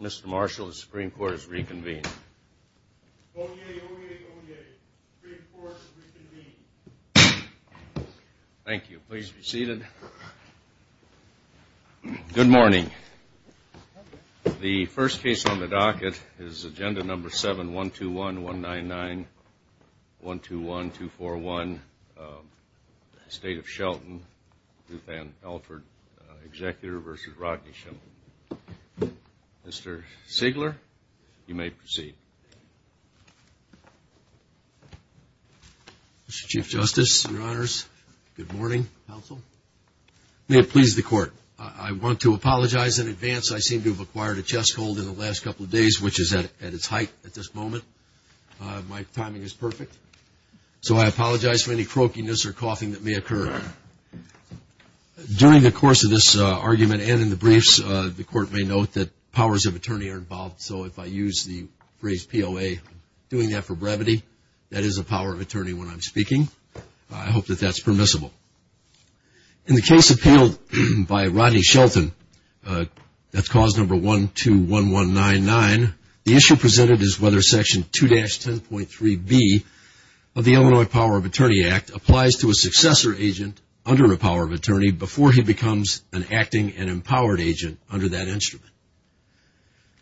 Mr. Marshall, the Supreme Court has reconvened. Thank you. Please be seated. Good morning. The first case on the docket is Agenda No. 7-121-199-121-241, Estate of Shelton, Ruth Ann Alford, Executive vs. Rodney Schimel. Mr. Siegler, you may proceed. Mr. Chief Justice, Your Honors, good morning, counsel. May it please the Court, I want to apologize in advance. I seem to have acquired a chest cold in the last couple of days, which is at its height at this moment. My timing is perfect. So I apologize for any croakiness or coughing that may occur. During the course of this argument and in the briefs, the Court may note that powers of attorney are involved. So if I use the phrase POA, doing that for brevity, that is a power of attorney when I'm speaking. I hope that that's permissible. In the case appealed by Rodney Shelton, that's Cause No. 121199, the issue presented is whether Section 2-10.3b of the Illinois Power of Attorney Act applies to a successor agent under a power of attorney before he becomes an acting and empowered agent under that instrument.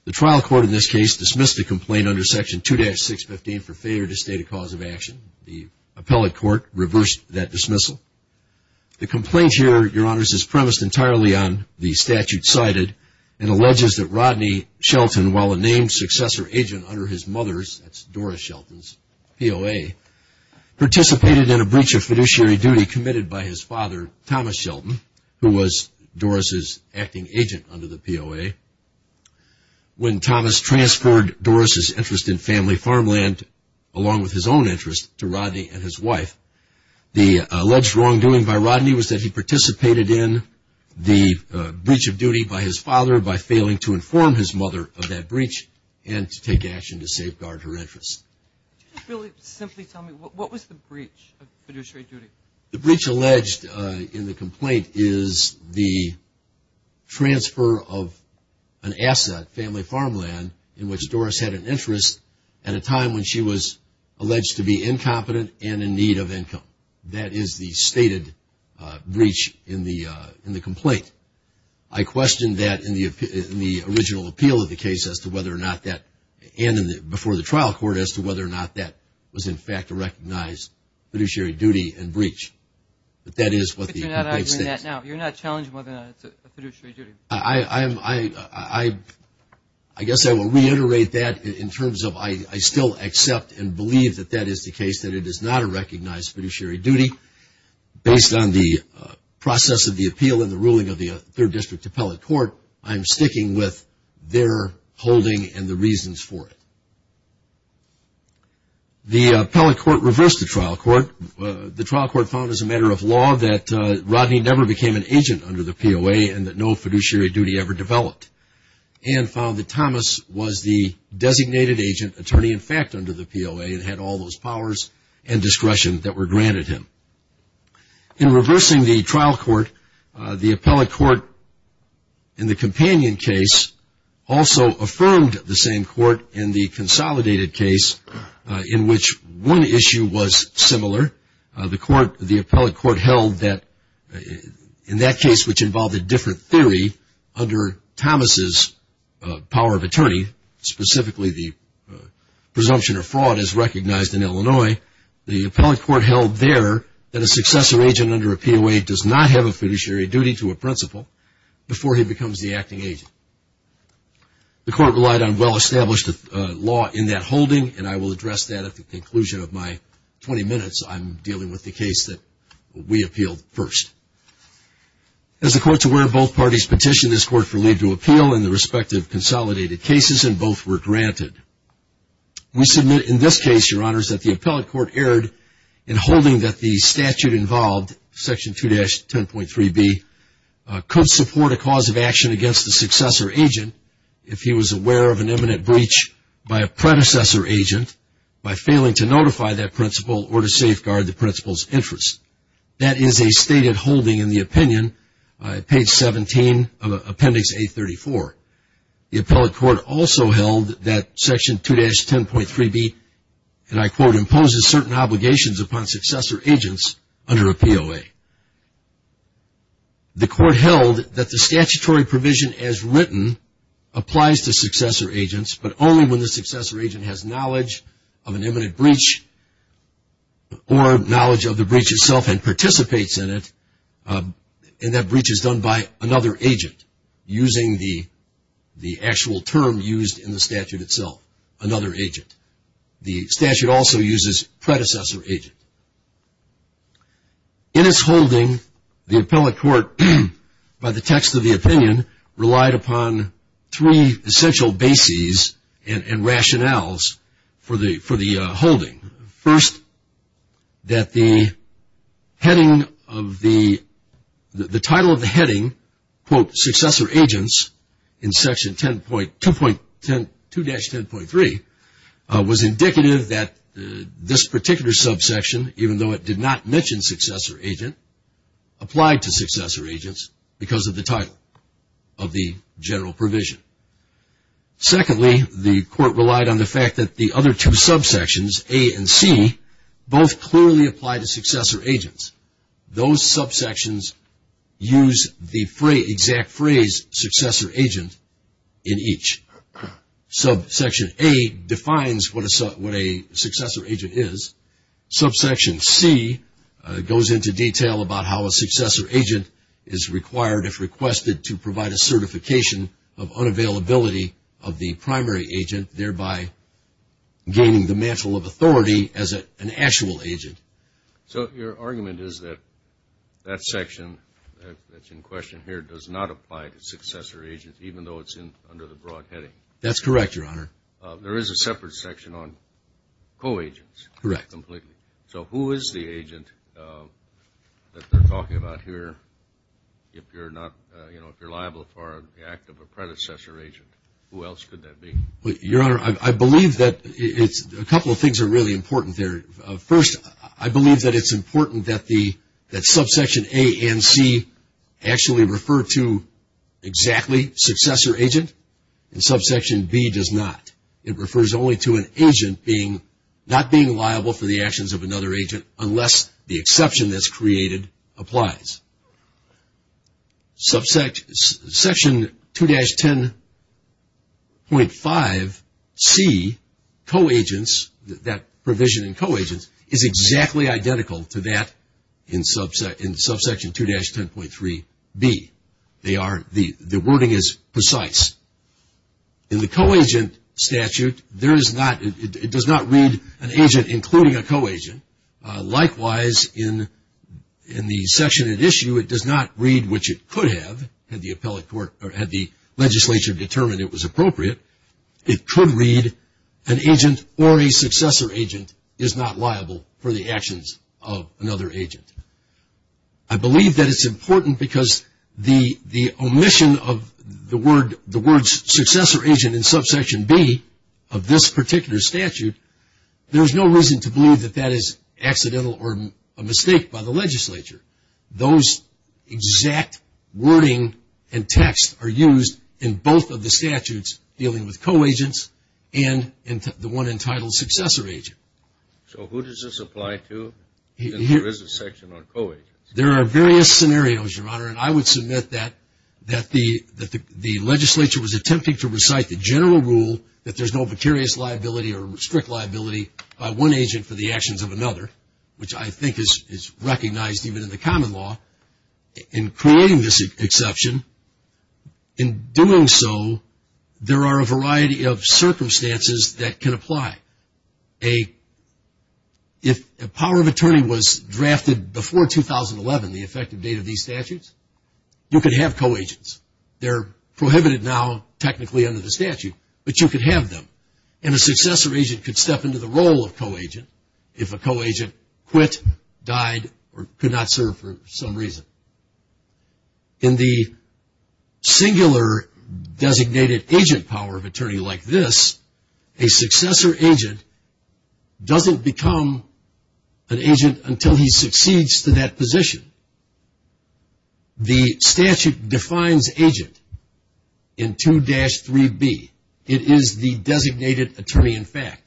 The trial court in this case dismissed the complaint under Section 2-615 for failure to state a cause of action. The appellate court reversed that dismissal. The complaint here, Your Honors, is premised entirely on the statute cited and alleges that Rodney Shelton, while a named successor agent under his mother's, that's Doris Shelton's, POA, participated in a breach of fiduciary duty committed by his father, Thomas Shelton, who was Doris's acting agent under the POA. When Thomas transferred Doris's interest in family farmland along with his own interest to Rodney and his wife, the alleged wrongdoing by Rodney was that he participated in the breach of duty by his father by failing to inform his mother of that breach and to take action to safeguard her interests. Can you really simply tell me, what was the breach of fiduciary duty? The breach alleged in the complaint is the transfer of an asset, family farmland, in which Doris had an interest at a time when she was alleged to be incompetent and in need of income. That is the stated breach in the complaint. I questioned that in the original appeal of the case as to whether or not that, and before the trial court, as to whether or not that was, in fact, a recognized fiduciary duty and breach. But that is what the complaint states. But you're not arguing that now. You're not challenging whether or not it's a fiduciary duty. I guess I will reiterate that in terms of I still accept and believe that that is the case, that it is not a recognized fiduciary duty. Based on the process of the appeal and the ruling of the third district appellate court, I'm sticking with their holding and the reasons for it. The appellate court reversed the trial court. The trial court found, as a matter of law, that Rodney never became an agent under the POA and that no fiduciary duty ever developed and found that Thomas was the designated agent attorney, in fact, under the POA and had all those powers and discretion that were granted him. In reversing the trial court, the appellate court in the companion case also affirmed the same court in the consolidated case in which one issue was similar. The appellate court held that in that case, which involved a different theory under Thomas's power of attorney, specifically the presumption of fraud as recognized in Illinois, the appellate court held there that a successor agent under a POA does not have a fiduciary duty to a principal before he becomes the acting agent. The court relied on well-established law in that holding and I will address that at the conclusion of my 20 minutes I'm dealing with the case that we appealed first. As the court is aware, both parties petitioned this court for leave to appeal in the respective consolidated cases and both were granted. We submit in this case, Your Honors, that the appellate court erred in holding that the statute involved, Section 2-10.3b, could support a cause of action against a successor agent if he was aware of an imminent breach by a predecessor agent by failing to notify that principal or to safeguard the principal's interest. That is a stated holding in the opinion, page 17 of Appendix A-34. The appellate court also held that Section 2-10.3b, and I quote, imposes certain obligations upon successor agents under a POA. The court held that the statutory provision as written applies to successor agents but only when the successor agent has knowledge of an imminent breach or knowledge of the breach itself and participates in it and that breach is done by another agent using the actual term used in the statute itself, another agent. The statute also uses predecessor agent. In its holding, the appellate court, by the text of the opinion, relied upon three essential bases and rationales for the holding. First, that the heading of the, the title of the successor agents in Section 2-10.3 was indicative that this particular subsection, even though it did not mention successor agent, applied to successor agents because of the title of the general provision. Secondly, the court relied on the fact that the other two subsections, A and C, both clearly apply to successor agents. Those subsections use the exact phrase, successor agent, in each. Subsection A defines what a successor agent is. Subsection C goes into detail about how a successor agent is required, if requested, to provide a certification of authority as an actual agent. So your argument is that that section that's in question here does not apply to successor agents, even though it's in, under the broad heading? That's correct, Your Honor. There is a separate section on co-agents. Correct. Completely. So who is the agent that they're talking about here if you're not, you know, if you're liable for the act of a predecessor agent? Who else could that be? Your Honor, I believe that it's, a couple of things are really important there. First, I believe that it's important that the, that subsection A and C actually refer to exactly successor agent, and subsection B does not. It refers only to an agent being, not being liable for the actions of another agent, unless the exception that's created applies. Subsection 2-10.5C, co-agents, that provision in co-agents, is exactly identical to that in subsection 2-10.3B. They are, the wording is precise. In the co-agent statute, there is no reason to believe that that is accidental or a mistake by the legislature. Those who exact wording and text are used in both of the statutes dealing with co-agents and the one entitled successor agent. So who does this apply to? There is a section on co-agents. There are various scenarios, Your Honor, and I would submit that the legislature was attempting to recite the general rule that there's no precarious liability or strict liability by one agent for the actions of another, which I think is recognized even in the common law. In creating this exception, in doing so, there are a variety of circumstances that can apply. If a power of attorney was drafted before 2011, the effective date of these statutes, you could have co-agents. They're prohibited now technically under the statute, but you could have them. And a successor agent could step into the role of co-agent if a co-agent quit, died, or could not serve for some reason. In the singular designated agent power of attorney like this, a successor agent doesn't become an agent until he succeeds to that position. The statute defines agent in 2-3B. It is the designated attorney in fact.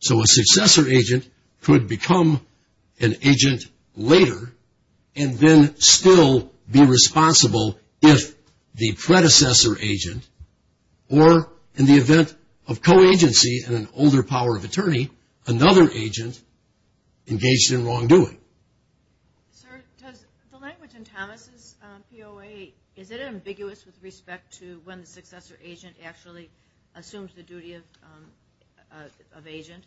So a successor agent could become an agent later and then still be responsible if the predecessor agent, or in the event of co-agency in an older power of attorney, another agent engaged in wrongdoing. Sir, does the language in Thomas' POA, is it ambiguous with respect to when the successor agent actually assumes the duty of agent?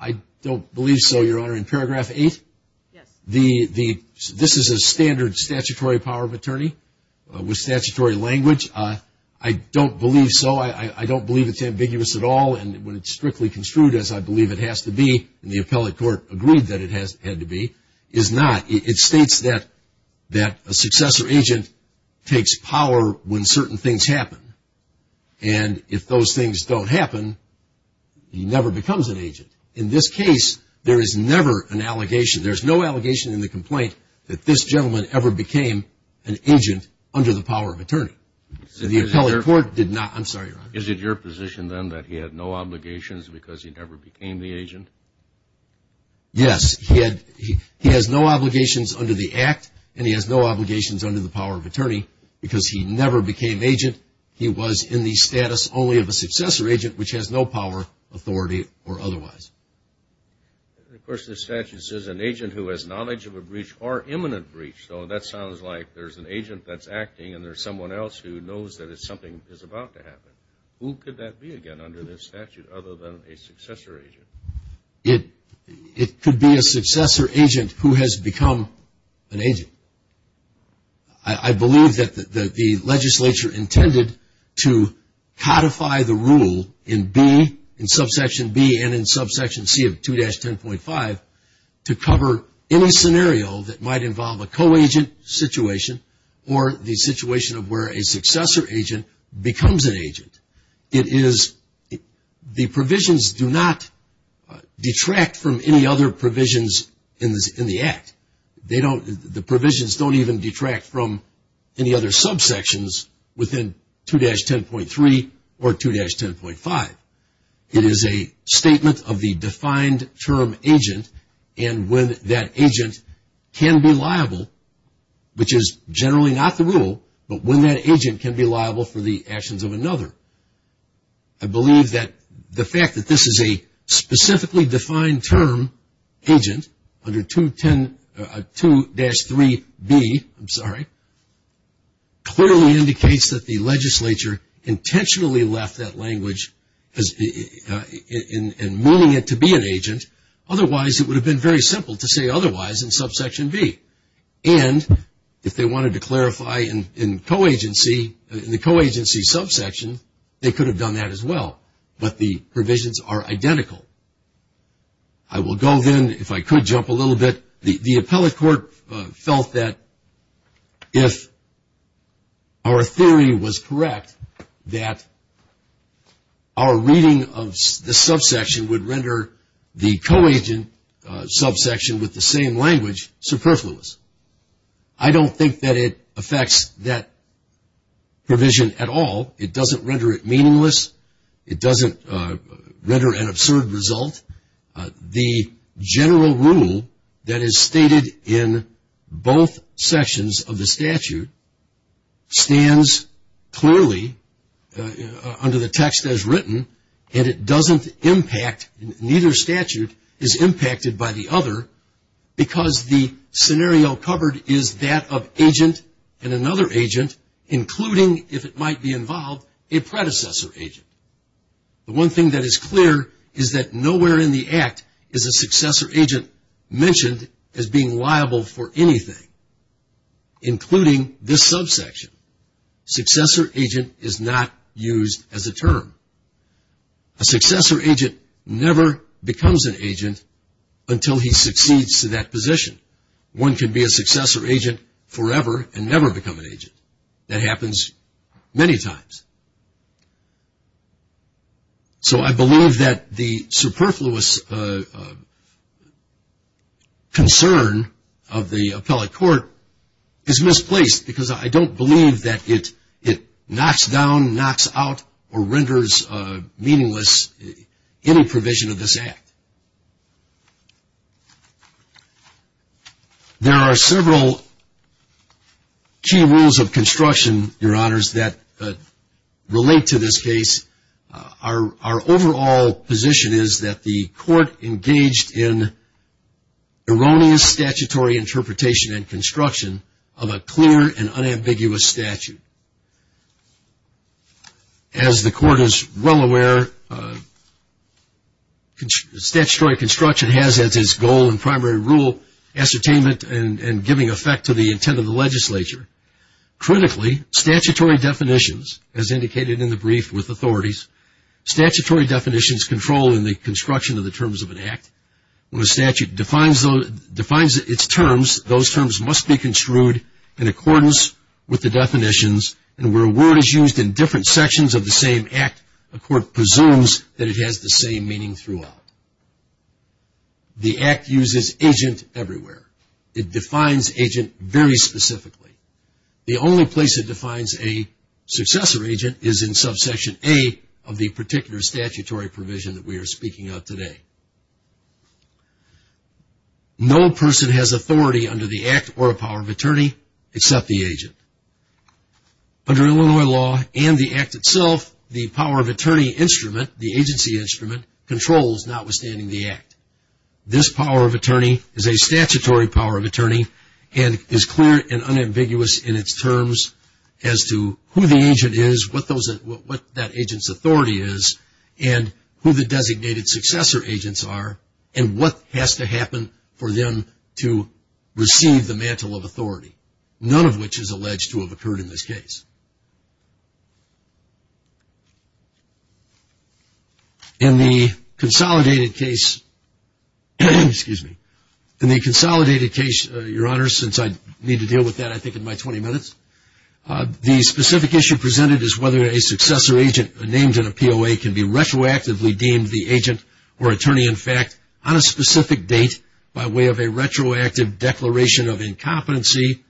I don't believe so, Your Honor. In paragraph 8, this is a standard statutory power of attorney with statutory language. I don't believe so. I don't believe it's ambiguous at all and when it's strictly construed as I believe it has to be, and the appellate court agreed that it had to be, is not. It states that a successor agent takes power when certain things happen and if those things don't happen, he never becomes an agent. In this case, there is never an allegation. There's no allegation in the complaint that this gentleman ever became an agent under the power of attorney. The appellate court did not. I'm sorry, Your Honor. Is it your position then that he had no obligations because he never became the agent? Yes. He has no obligations under the act and he has no obligations under the power of attorney because he never became agent. He was in the status only of a successor agent, which has no power, authority, or otherwise. Of course, the statute says an agent who has knowledge of a breach or imminent breach, so that sounds like there's an agent that's acting and there's someone else who knows that something is about to happen. Who could that be again under this statute other than a successor agent? It could be a successor agent who has become an agent. I believe that the legislature intended to codify the rule in B, in subsection B and in subsection C of 2-10.5 to cover any scenario that might involve a co-agent situation or the situation of where a successor agent becomes an agent. The provisions do not detract from any other provisions in the act. The provisions don't even detract from any other subsections within 2-10.3 or 2-10.5. It is a statement of the defined term agent and when that agent can be liable, which is generally not the case, it is a statement of the defined term agent. I believe that the fact that this is a specifically defined term agent under 2-3B clearly indicates that the legislature intentionally left that language and meaning it to be an agent. Otherwise, it would have been very simple to say otherwise in subsection B. If they wanted to clarify in the co-agency subsection, they could have done that as well, but the provisions are identical. I will go then, if I could jump a little bit. The appellate court felt that if our theory was correct, that our reading of the subsection would render the co-agent subsection with the same language superfluous. I don't think that it affects that provision at all. It doesn't render it meaningless. It doesn't render an absurd result. The general rule that is stated in both sections of the statute stands clearly under the text as written and it doesn't impact, neither statute is impacted by the other, because the scenario covered is that of agent and another agent, including, if it might be involved, a predecessor agent. The one thing that is clear is that nowhere in the Act is a successor agent mentioned as being liable for anything, including this subsection. Successor agent is not used as a term. A successor agent never becomes an agent until he succeeds to that position. One can be a successor agent forever and never become an agent. That happens many times. So I believe that the superfluous concern of the appellate court is misplaced because I don't believe that it knocks down, knocks out, or renders meaningless any provision of this Act. There are several key rules of construction, Your Honors, that relate to this case. Our overall position is that the court engaged in erroneous statutory interpretation and as the court is well aware, statutory construction has as its goal and primary rule ascertainment and giving effect to the intent of the legislature. Critically, statutory definitions, as indicated in the brief with authorities, statutory definitions control in the construction of the terms of an Act. When a statute defines its terms, those terms must be construed in accordance with the definitions and where a word is used in different sections of the same Act, a court presumes that it has the same meaning throughout. The Act uses agent everywhere. It defines agent very specifically. The only place it defines a successor agent is in subsection A of the particular statutory provision that we are speaking of today. No person has authority under the Act or a power of attorney except the agent. Under Illinois law and the Act itself, the power of attorney instrument, the agency instrument, controls notwithstanding the Act. This power of attorney is a statutory power of attorney and is clear and unambiguous in its terms as to who the agent is, what that agent's authority is, and who the designated successor agents are and what has to happen for them to receive the mantle of authority, none of which is alleged to have occurred in this case. In the consolidated case, your honors, since I need to deal with that I think in my 20 minutes, the specific issue presented is whether a successor agent named in a POA can be retroactively deemed the agent or attorney, in fact, on a specific date by way of a retroactive declaration of incompetency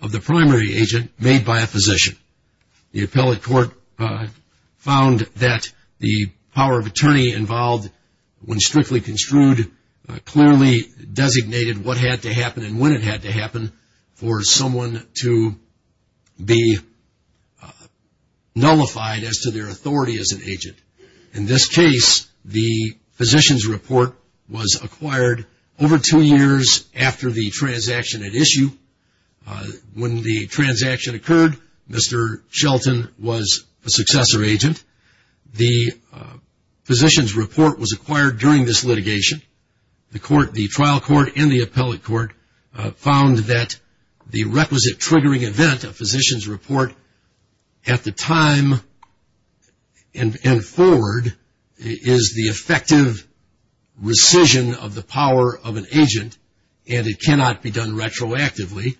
of the primary agent made by a physician. The appellate court found that the power of attorney involved, when strictly construed, clearly designated what had to happen and when it had to happen for someone to be nullified as to their authority as an agent. In this case, the physician's report was acquired over two years after the transaction at issue. When the transaction occurred, Mr. Shelton was a successor agent. The physician's report was acquired during this litigation. The trial court and the appellate court found that the requisite triggering event of physician's report at the time the and forward is the effective rescission of the power of an agent and it cannot be done retroactively.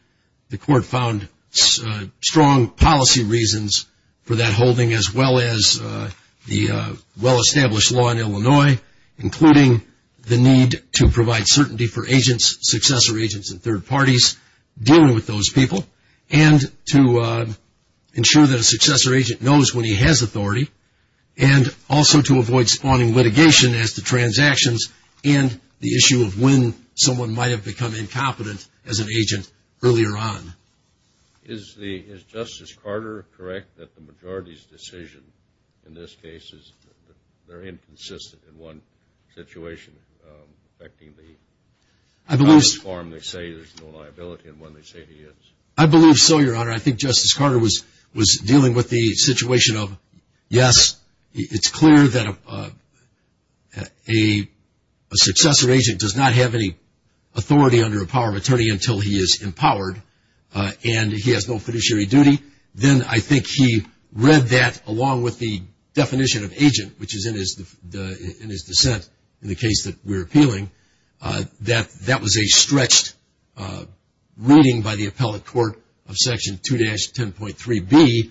The court found strong policy reasons for that holding as well as the well-established law in Illinois, including the need to provide certainty for agents, successor agents and third parties dealing with those people and to ensure that a successor agent knows when he has authority and also to avoid spawning litigation as to transactions and the issue of when someone might have become incompetent as an agent earlier on. Is the, is Justice Carter correct that the majority's decision in this case is very inconsistent in one situation affecting the, on this form they say there's no liability and when they say there is? I believe so, Your Honor. I think Justice Carter was dealing with the situation of yes, it's clear that a successor agent does not have any authority under a power of attorney until he is empowered and he has no fiduciary duty. Then I think he read that along with the definition of agent, which is in his dissent in the case that we're appealing, that that was a stretched reading by the appellate court of Section 2-10.3b,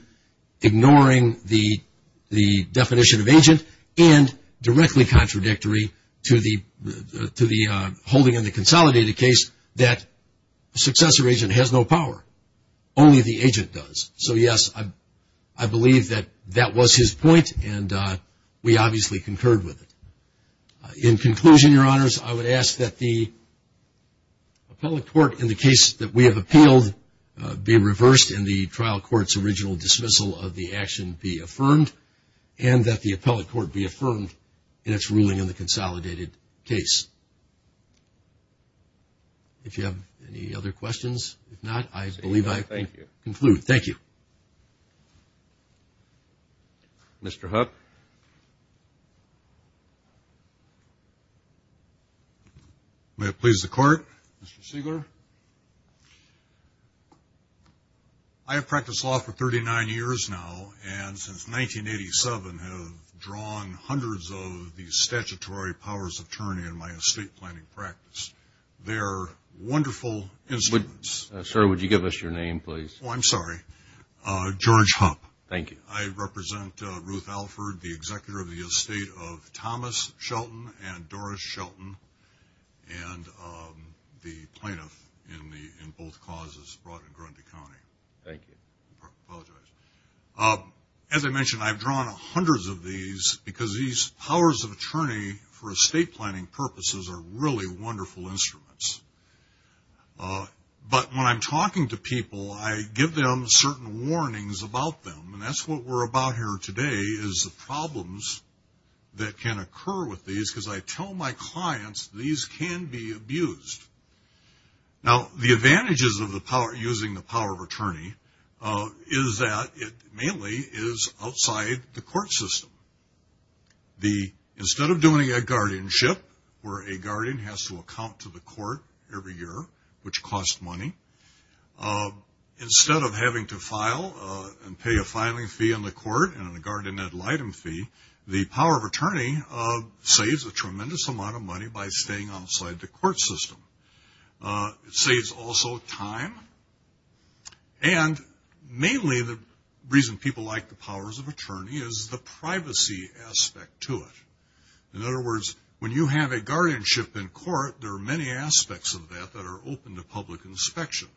ignoring the definition of agent and directly contradictory to the holding in the consolidated case that a successor agent has no power. Only the agent does. So yes, I believe that that was his point and we obviously concurred with it. In conclusion, Your Honors, I would ask that the appellate court in the case that we have appealed be reversed and the trial court's original dismissal of the action be affirmed and that the appellate court be affirmed in its ruling in the consolidated case. If you have any other questions, if not, I believe I can conclude. Thank you. Thank you. Mr. Hupp. May it please the Court. Mr. Siegler. I have practiced law for 39 years now and since 1987 have drawn hundreds of these statutory powers of attorney in my estate planning practice. They are wonderful instruments. Sir, would you give us your name, please? Oh, I'm sorry. George Hupp. Thank you. I represent Ruth Alford, the executor of the estate of Thomas Shelton and Doris Shelton and the plaintiff in both causes brought in Grundy County. As I mentioned, I've drawn hundreds of these because these powers of attorney for estate are wonderful instruments. But when I'm talking to people, I give them certain warnings about them and that's what we're about here today is the problems that can occur with these because I tell my clients these can be abused. Now, the advantages of using the power of attorney is that it mainly is outside the court system. Instead of doing a guardianship where a guardian has to account to the court every year, which costs money, instead of having to file and pay a filing fee on the court and a guardian ad litem fee, the power of attorney saves a tremendous amount of money by staying outside the court system. It saves also time and mainly the reason people like the powers of attorney is the privacy aspect to it. In other words, when you have a guardianship in court, there are many aspects of that that are open to public inspection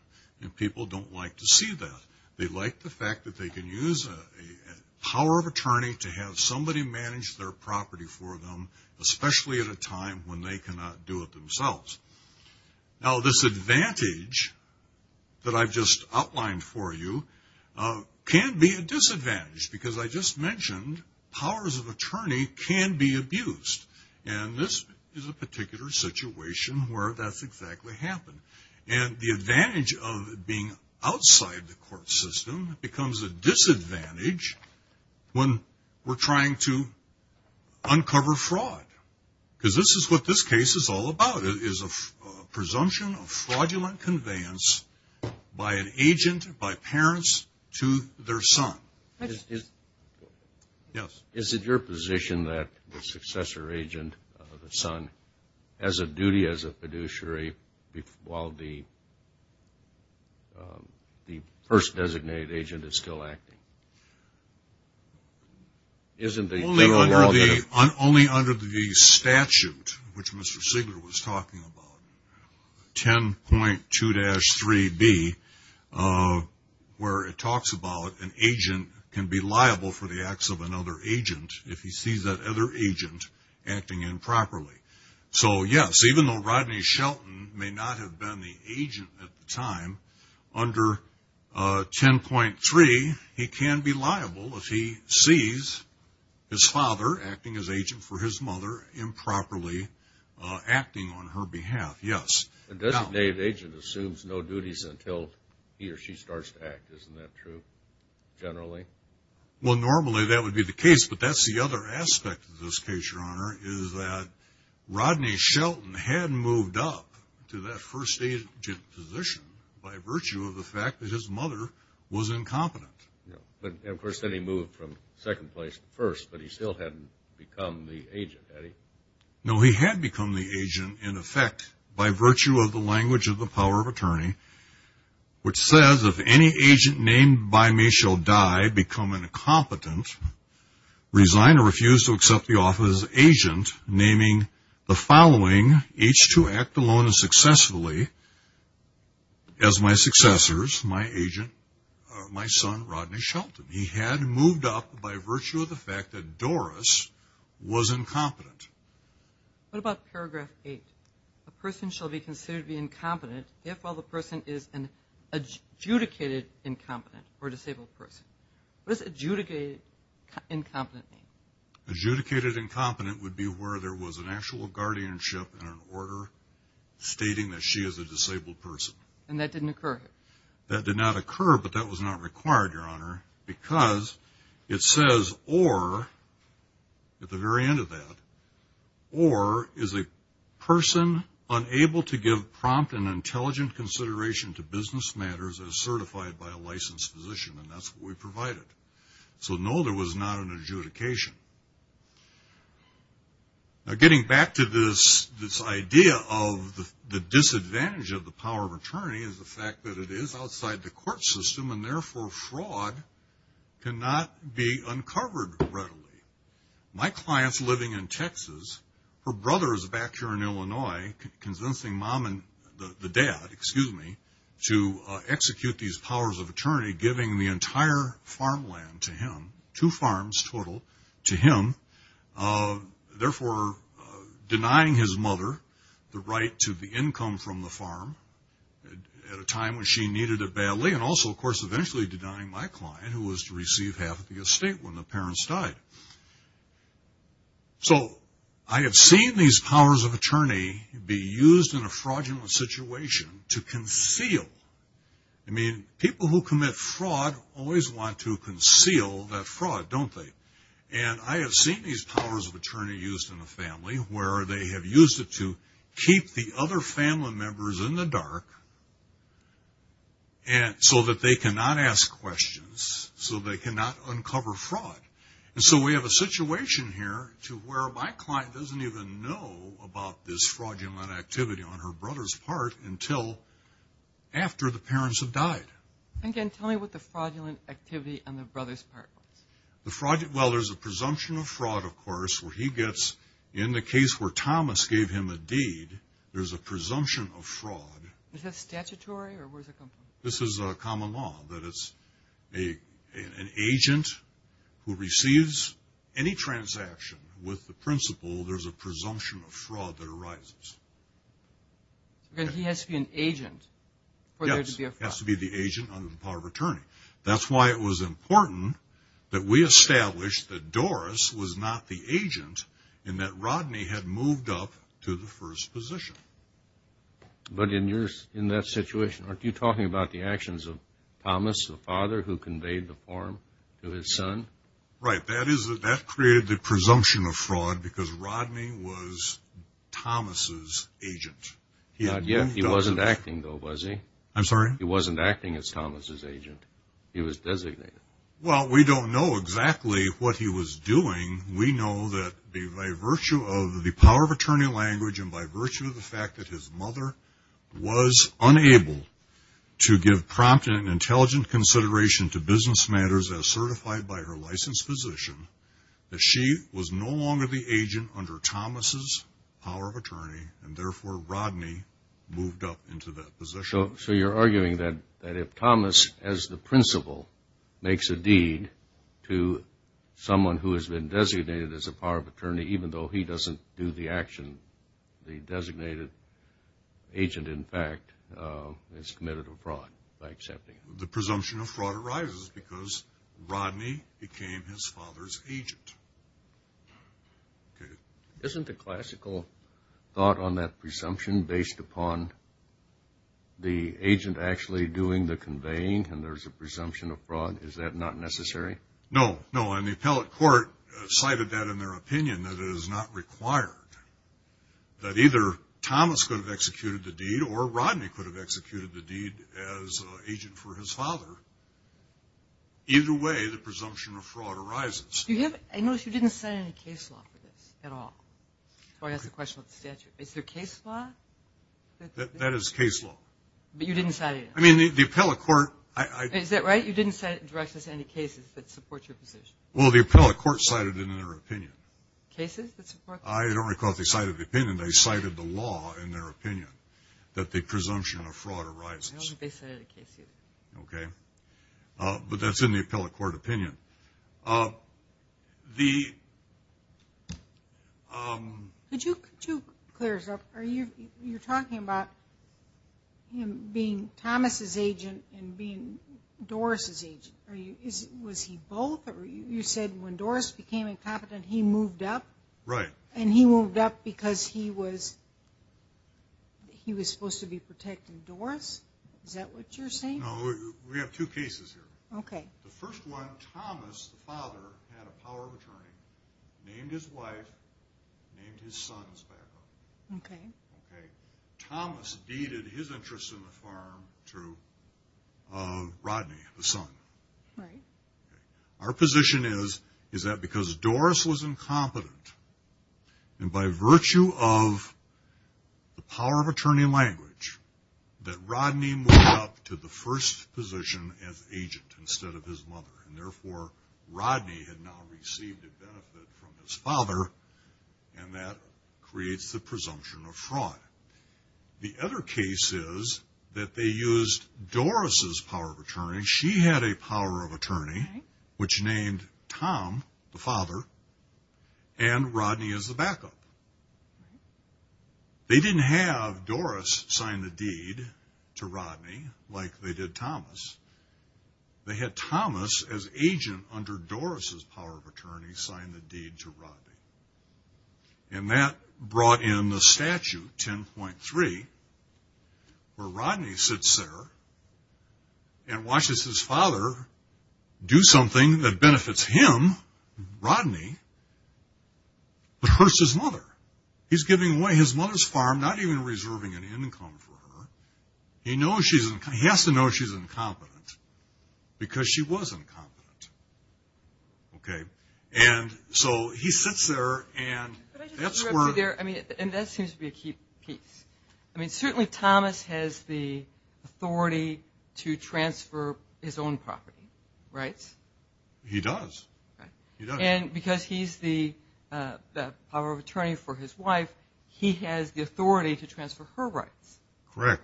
and people don't like to see that. They like the fact that they can use a power of attorney to have somebody manage their property for them, especially at a time when they cannot do it themselves. Now, this advantage that I've just outlined for you can be a disadvantage because I just mentioned powers of attorney can be abused and this is a particular situation where that's exactly happened. The advantage of being outside the court system becomes a disadvantage when we're trying to uncover fraud because this is what this case is all about. It is a presumption of fraudulent conveyance by an agent, by parents to their son. Yes. Is it your position that the successor agent, the son, has a duty as a fiduciary while the first designated agent is still acting? Only under the statute, which Mr. Sigler was talking about, 10.2-3B, where it talks about an agent can be liable for the acts of another agent if he sees that other agent acting improperly. So, yes, even though Rodney Shelton may not have been the agent at the time, under 10.3, he can be liable if he sees his father acting as agent for his mother improperly acting on her behalf. Yes. A designated agent assumes no duties until he or she starts to act. Isn't that true, generally? Well, normally that would be the case, but that's the other aspect of this case, Your Honor. So, Mr. Sigler was not liable if his father was incompetent. No, but of course, then he moved from second place to first, but he still hadn't become the agent, had he? No, he had become the agent, in effect, by virtue of the language of the power of attorney, which says, if any agent named by me shall die, become incompetent, resign or refuse to accept the office of agent, naming the following, each to act alone and successfully, as my successors, my agent, my son, Rodney Shelton. He had moved up by virtue of the fact that Doris was incompetent. What about paragraph 8? A person shall be considered to be incompetent if, while the person is an adjudicated incompetent or disabled person. What does adjudicated incompetent mean? Adjudicated incompetent would be where there was an actual guardianship and an order stating that she is a disabled person. And that didn't occur? That did not occur, but that was not required, Your Honor, because it says, or, at the very end of that, or is a person unable to give prompt and intelligent consideration to business matters as certified by a licensed physician, and that's what we provided. So, no, there was not an adjudication. Now, getting back to this idea of the disadvantage of the power of attorney is the fact that it is outside the court system and, therefore, fraud cannot be uncovered readily. My client's living in Texas. Her brother is back here in Illinois convincing mom and the dad, excuse me, to execute these powers of attorney, giving the entire farmland to him, two farms total to him, therefore denying his mother the right to the income from the farm at a time when she needed it badly, and also, of course, eventually denying my client who was to receive half of the estate when the parents died. So I have seen these powers of attorney be used in a fraudulent situation to conceal. I mean, people who commit fraud always want to conceal that fraud, don't they? And I have seen these powers of attorney used in the family where they have used it to keep the other family members in the dark so that they cannot ask questions, so they cannot uncover fraud. And so we have a situation here to where my client doesn't even know about this fraudulent activity on her brother's part until after the parents have died. And again, tell me what the fraudulent activity on the brother's part was. Well, there is a presumption of fraud, of course, where he gets, in the case where Thomas gave him a deed, there is a presumption of fraud. Is that statutory or where does it come from? This is common law, that it's an agent who receives any transaction with the principle there is a presumption of fraud that arises. Then he has to be an agent for there to be a fraud. Yes, he has to be the agent under the power of attorney. That's why it was important that we established that Doris was not the agent and that Rodney had moved up to the first position. But in that situation, aren't you talking about the actions of Thomas, the father who conveyed the form to his son? Right. That created the presumption of fraud because Rodney was Thomas' agent. He wasn't acting though, was he? I'm sorry? He wasn't acting as Thomas' agent. He was designated. Well, we don't know exactly what he was doing. We know that by virtue of the power of attorney language and by virtue of the fact that his mother was unable to give prompt and intelligent consideration to business matters as certified by her licensed physician, that she was no longer the agent under Thomas' power of attorney and therefore Rodney moved up into that position. So you're arguing that if Thomas, as the principal, makes a deed to someone who has been designated as a power of attorney, even though he doesn't do the action, the designated agent, in fact, is committed a fraud by accepting it. The presumption of fraud arises because Rodney became his father's agent. Isn't the classical thought on that presumption based upon the agent actually doing the conveying and there's a presumption of fraud? Is that not necessary? No. No. And the appellate court cited that in their opinion that it is not required. That either Thomas could have executed the deed or Rodney could have executed the deed as an agent for his father. Either way, the presumption of fraud arises. I noticed you didn't cite any case law for this at all. That's the question of the statute. Is there case law? That is case law. But you didn't cite it. I mean, the appellate court... Is that right? You didn't cite it in the direction of any cases that support your position? Well, the appellate court cited it in their opinion. Cases that support... I don't recall if they cited the opinion. They cited the law in their opinion that the presumption of fraud arises. I don't think they cited a case either. Okay. But that's in the appellate court opinion. The... Could you clear us up? You're talking about him being Thomas' agent and being Doris' agent. Was he both? You said when Doris became incompetent, he moved up? Right. And he moved up because he was supposed to be protecting Doris? Is that what you're saying? No. We have two cases here. Okay. The first one, Thomas, the father, had a power of attorney, named his wife, named his son as backup. Okay. Thomas deeded his interests in the farm to Rodney, the son. Right. Our position is that because Doris was incompetent, and by virtue of the power of attorney language, that Rodney moved up to the first position as agent instead of his mother. And therefore Rodney had now received a benefit from his father, and that creates the presumption of fraud. The other case is that they used Doris' power of attorney. She had a power of attorney which named Tom, the father, and Rodney as the backup. They didn't have Doris sign the deed to Rodney like they did Thomas. They had Thomas as agent under Doris' power of attorney sign the deed to Rodney. And that brought in the statute, 10.3, where Rodney sits there and watches his father do something that benefits him, Rodney, but hurts his mother. He's giving away his mother's farm, not even reserving an income for her. He has to know she's incompetent because she was incompetent. And so he sits there and that's where... And that seems to be a key piece. I mean, certainly Thomas has the authority to transfer his own property rights. He does. And because he's the power of attorney for his wife, he has the authority to transfer her rights. Correct.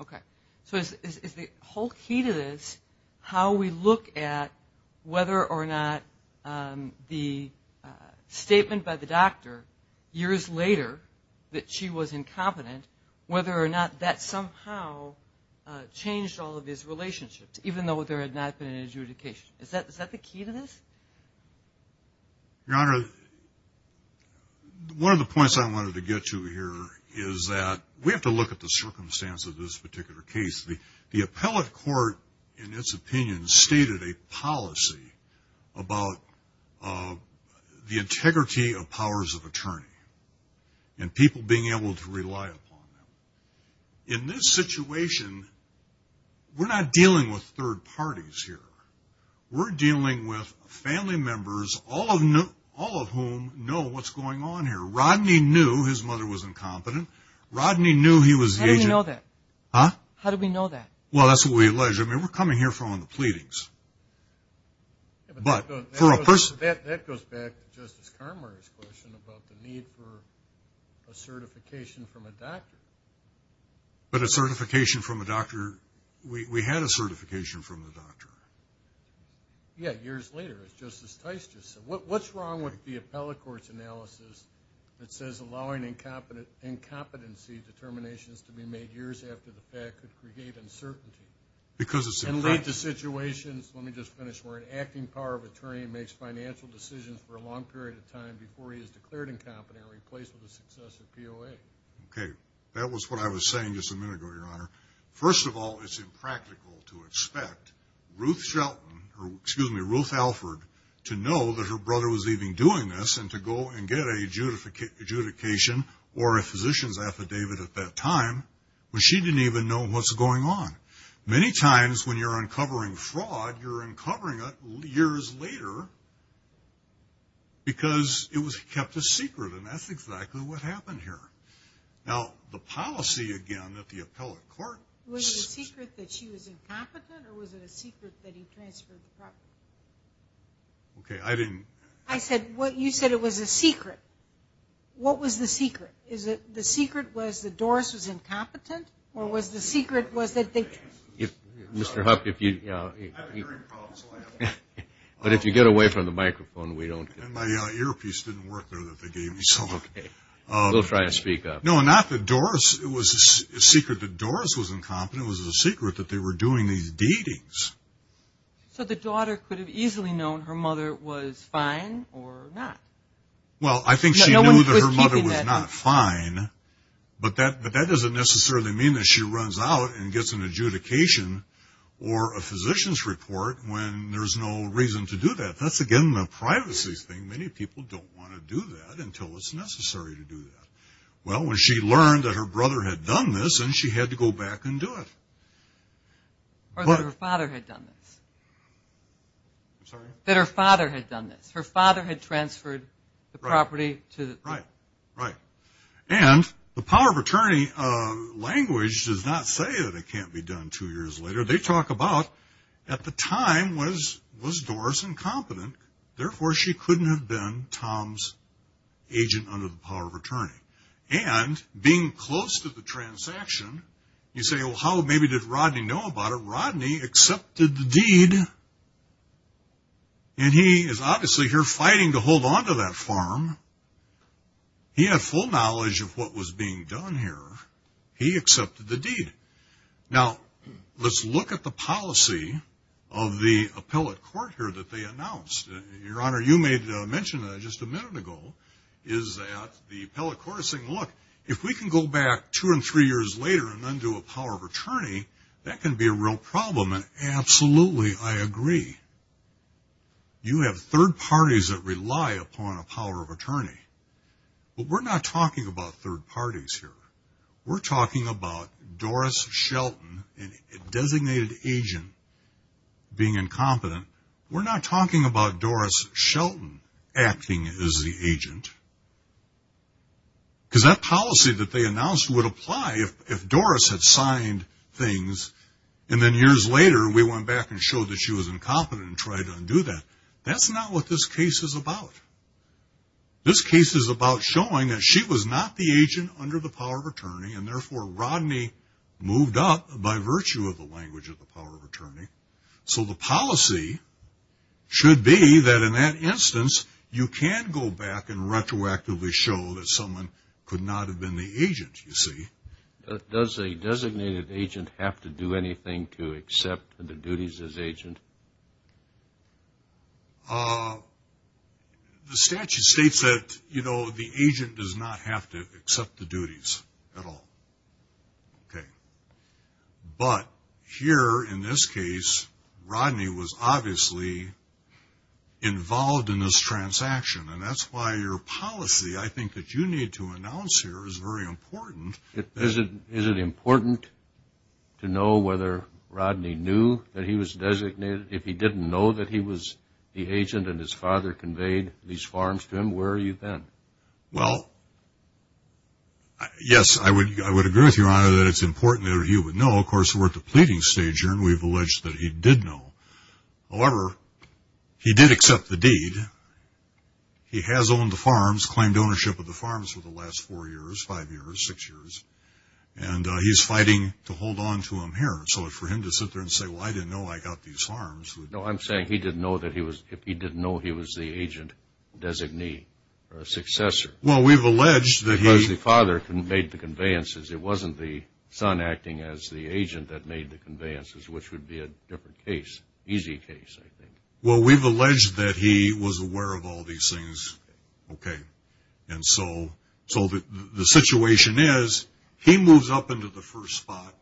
Okay. So is the whole key to this how we look at whether or not the statement by the doctor years later that she was incompetent, whether or not that somehow changed all of his relationships even though there had not been an adjudication? Is that the key to this? Your Honor, one of the points I wanted to get to here is that we have to look at the circumstance of this particular case. The appellate court, in its opinion, stated a policy about the integrity of powers of attorney and people being able to rely upon them. In this situation, we're not dealing with third parties here. We're dealing with family members, all of whom know what's going on here. Rodney knew his mother was incompetent. Rodney knew he was the agent. How do we know that? Huh? How do we know that? Well, that's what we alleged. I mean, we're coming here from the pleadings. But that goes back to Justice Conroy's question about the need for a certification from a doctor. But a certification from a doctor, we had a certification from a doctor. Yeah, years later, as Justice Tice just said. What's wrong with the appellate court's analysis that says allowing incompetency determinations to be made years after the fact could create uncertainty? Because it's impractical. And lead to situations, let me just finish, where an acting power of attorney makes financial decisions for a long period of time before he is declared incompetent or replaced with a successive POA. Okay, that was what I was saying just a minute ago, Your Honor. First of all, it's impractical to expect Ruth Shelton, excuse me, Ruth Alford, to know that her brother was even doing this and to go and get a adjudication or a physician's affidavit at that time when she didn't even know what's going on. Many times when you're uncovering fraud, you're uncovering it years later because it was kept a secret and that's exactly what happened here. Now, the policy, again, that the appellate court... Was it a secret that she was incompetent or was it a secret that he transferred the property? Okay, I didn't... I said what you said it was a secret. What was the secret? Is it the secret was that Doris was incompetent or was the secret was that they... If Mr. Huff, if you... I've been hearing problems lately. But if you get away from the microphone, we don't... And my earpiece didn't work there that they gave me, so... Okay, we'll try to speak up. No, not that Doris, it was a secret that Doris was incompetent. It was a secret that they were doing these deetings. So the daughter could have easily known her mother was fine or not? Well I think she knew that her mother was not fine, but that doesn't necessarily mean that she runs out and gets an adjudication or a physician's report when there's no reason to do that. That's again the privacy thing. Many people don't want to do that until it's necessary to do that. Well when she learned that her brother had done this, then she had to go back and do it. Or that her father had done this. I'm sorry? That her father had done this. Her father had transferred the property to... Right, right. And the power of attorney language does not say that it can't be done two years later. They talk about at the time was Doris incompetent, therefore she couldn't have been Tom's agent under the power of attorney. And being close to the transaction, you say, well how maybe did Rodney know about it? Rodney accepted the deed and he is obviously here fighting to hold onto that farm. He had full knowledge of what was being done here. He accepted the deed. Now let's look at the policy of the appellate court here that they announced. Your Honor, you made mention just a minute ago is that the appellate court is saying, look, if we can go back two and three years later and then do a power of attorney, that can be a real problem and absolutely I agree. You have third parties that rely upon a power of attorney. But we're not talking about third party. We're not talking about Doris Shelton, a designated agent, being incompetent. We're not talking about Doris Shelton acting as the agent. Because that policy that they announced would apply if Doris had signed things and then years later we went back and showed that she was incompetent and tried to undo that. That's not what this case is about. This case is about showing that she was not the agent under the power of attorney and therefore Rodney moved up by virtue of the language of the power of attorney. So the policy should be that in that instance you can go back and retroactively show that someone could not have been the agent, you see. Does a designated agent have to do anything to accept the duties as agent? The statute states that the agent does not have to accept the duties at all. But here in this case, Rodney was obviously involved in this transaction and that's why your policy I think that you need to announce here is very important. Is it important to know whether Rodney knew that he was designated? If he didn't know that he was the agent and his father conveyed these farms to him, where are you then? Yes, I would agree with you, Your Honor, that it's important that he would know. Of course we're at the pleading stage here and we've alleged that he did know. However, he did accept the deed. He has owned the farms, claimed ownership of the farms for the last four years, five years, six years, and he's fighting to hold on to them here. So for him to sit there and say, well, I didn't know I got these farms. No, I'm saying he didn't know that he was, if he didn't know he was the agent designee or successor. Well we've alleged that he Because the father made the conveyances. It wasn't the son acting as the agent that made the conveyances, which would be a different case, easy case, I think. Well we've alleged that he was aware of all these things, okay. And so the situation is he moves up into the first spot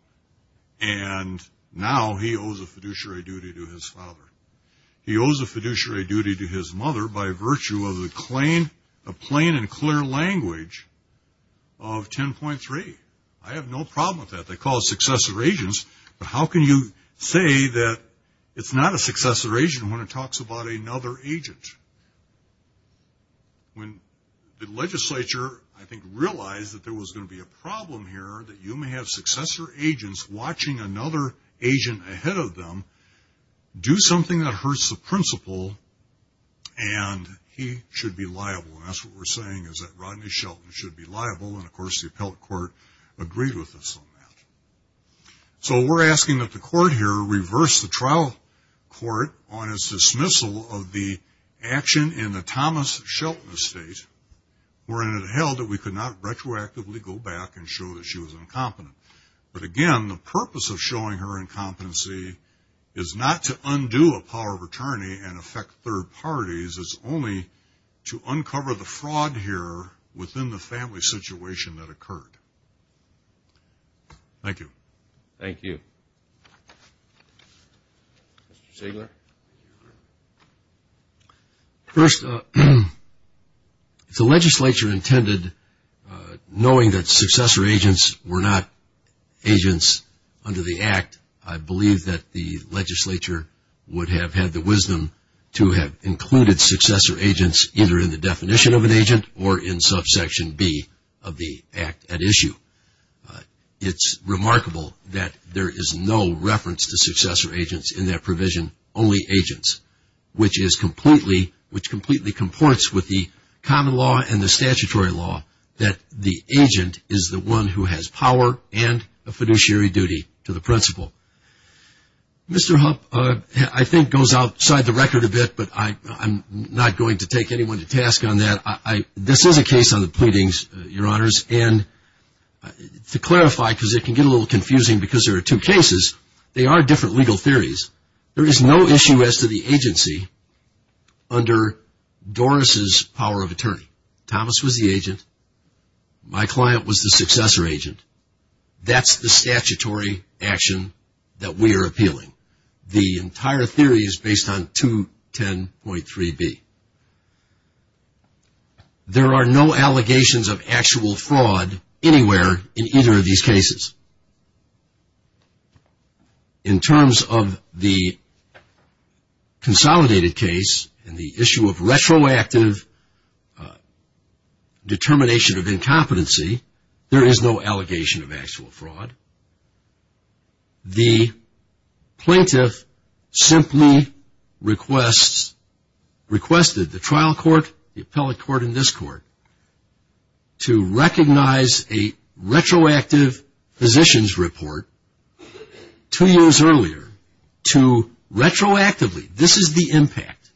and now he owes a fiduciary duty to his father. He owes a fiduciary duty to his mother by virtue of the plain and clear language of 10.3. I have no problem with that. They call it success of agents, but how can you say that it's not a successor agent when it talks about another agent? When the legislature, I think, realized that there was going to be a problem here, that you may have successor agents watching another agent ahead of them do something that hurts the principle and he should be liable. And that's what we're saying is that Rodney Shelton should be liable and of course the appellate court agreed with us on that. So we're asking that the court here reverse the trial court on its dismissal of the action in the Thomas Shelton estate wherein it held that we could not retroactively go back and show that she was incompetent. But again, the purpose of showing her incompetency is not to undo a power of attorney and affect third parties. It's only to uncover the fraud here within the family situation that occurred. Thank you. Thank you. Mr. Sigler. First, if the legislature intended, knowing that successor agents were not agents under the Act, I believe that the legislature would have had the wisdom to have included successor agents either in the definition of an agent or in subsection B of the Act at issue. It's remarkable that there is no reference to successor agents in that provision, only agents, which is completely, which completely comports with the common law and the statutory law that the agent is the one who has power and a fiduciary duty to the principle. Mr. Hupp, I think goes outside the record a bit, but I'm not going to take anyone to task on that. This is a case on the pleadings, Your Honors, and to clarify, because it can get a little confusing because there are two cases, they are different legal theories. There is no issue as to the agency under Doris's power of attorney. Thomas was the agent. My theory is based on the statutory action that we are appealing. The entire theory is based on 210.3B. There are no allegations of actual fraud anywhere in either of these cases. In terms of the consolidated case and the issue of retroactive determination of incompetency, there is no allegation of actual fraud. The plaintiff simply requests, requested the trial court, the appellate court, and this court to recognize a retroactive positions report two years earlier to retroactively, this is the impact,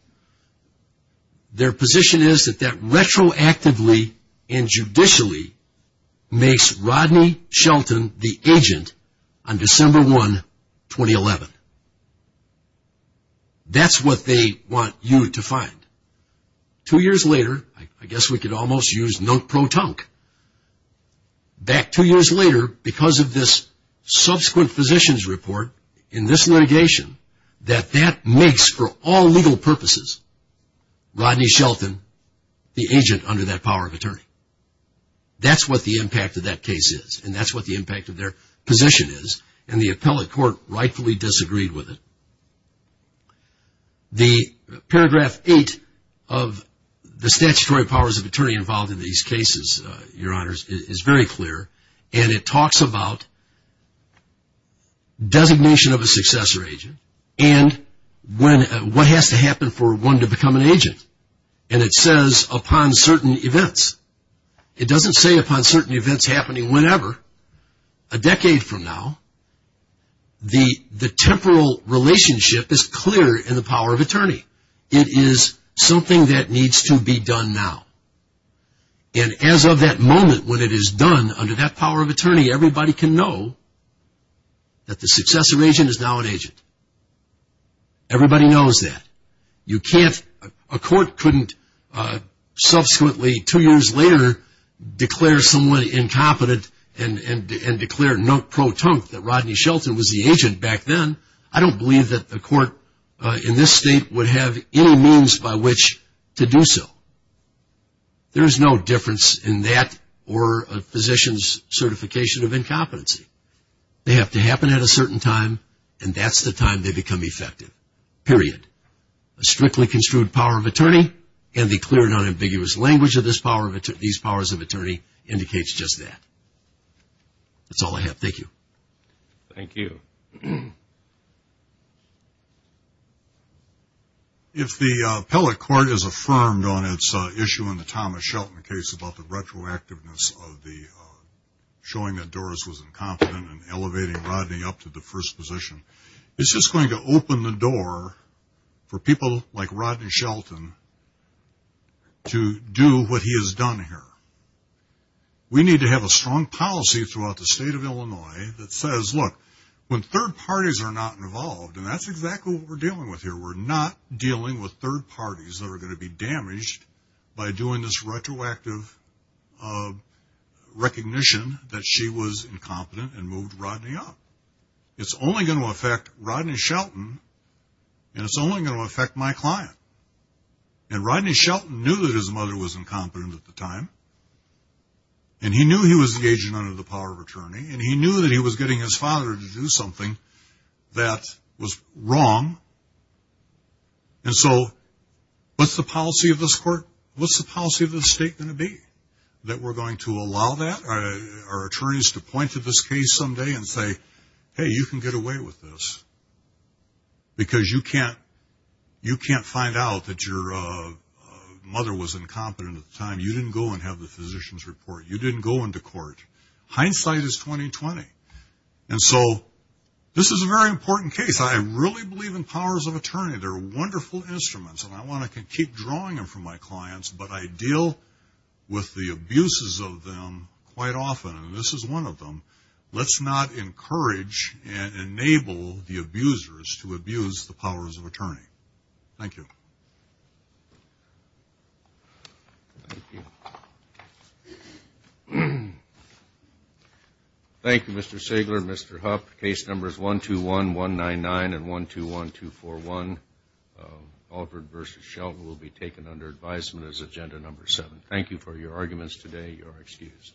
their position is that that retroactively and judicially makes Rodney Shelton the agent on December 1, 2011. That's what they want you to find. Two years later, I guess we could almost use note pro tonk, back two years later because of this subsequent positions report in this litigation, that that makes for all the power of attorney. That's what the impact of that case is and that's what the impact of their position is and the appellate court rightfully disagreed with it. The paragraph eight of the statutory powers of attorney involved in these cases, your honors, is very clear and it talks about designation of a successor agent and what has to happen for one to become an agent and it says upon certain events. It doesn't say upon certain events happening whenever. A decade from now, the temporal relationship is clear in the power of attorney. It is something that needs to be done now and as of that moment when it is done under that power of attorney, everybody can know that the successor agent is now an agent. A court couldn't subsequently two years later declare someone incompetent and declare note pro tonk that Rodney Shelton was the agent back then. I don't believe that the court in this state would have any means by which to do so. There's no difference in that or a physician's certification of incompetency. They have to happen at a certain time and that's the time they become effective, period. A strictly construed power of attorney and the clear non-ambiguous language of these powers of attorney indicates just that. That's all I have. Thank you. If the appellate court is affirmed on its issue in the Thomas Shelton case about the retroactiveness of the showing that Doris was incompetent and elevating Rodney up to the first position, it's just going to open the door for people like Rodney Shelton to do what he has done here. We need to have a strong policy throughout the state of Illinois that says, look, when third parties are not involved, and that's exactly what we're dealing with here, we're not dealing with third parties that are going to be damaged by doing this retroactive recognition that she was incompetent and moved Rodney up. It's only going to affect Rodney Shelton and it's only going to affect my client. And Rodney Shelton knew that his mother was incompetent at the time and he knew he was engaging under the power of attorney and he knew that he was getting his father to do something that was wrong. And so, what's the policy of this court? What's the policy of this state going to be? That we're going to allow that? Are attorneys to point to this case someday and say, hey, you can get away with this because you can't find out that your mother was incompetent at the time. You didn't go and have the physician's report. You didn't go into court. Hindsight is 20-20. And so, this is a very important case. I really believe in powers of attorney. They're wonderful instruments and I want to keep drawing them from my clients, but I deal with the abuses of them quite often. And this is one of them. Let's not encourage and enable the abusers to abuse the powers of attorney. Thank you. Thank you. Thank you, Mr. Sigler, Mr. Hupp. Case numbers 121-199 and 121-241, Alford versus Huffman. Thank you for your arguments today. You are excused.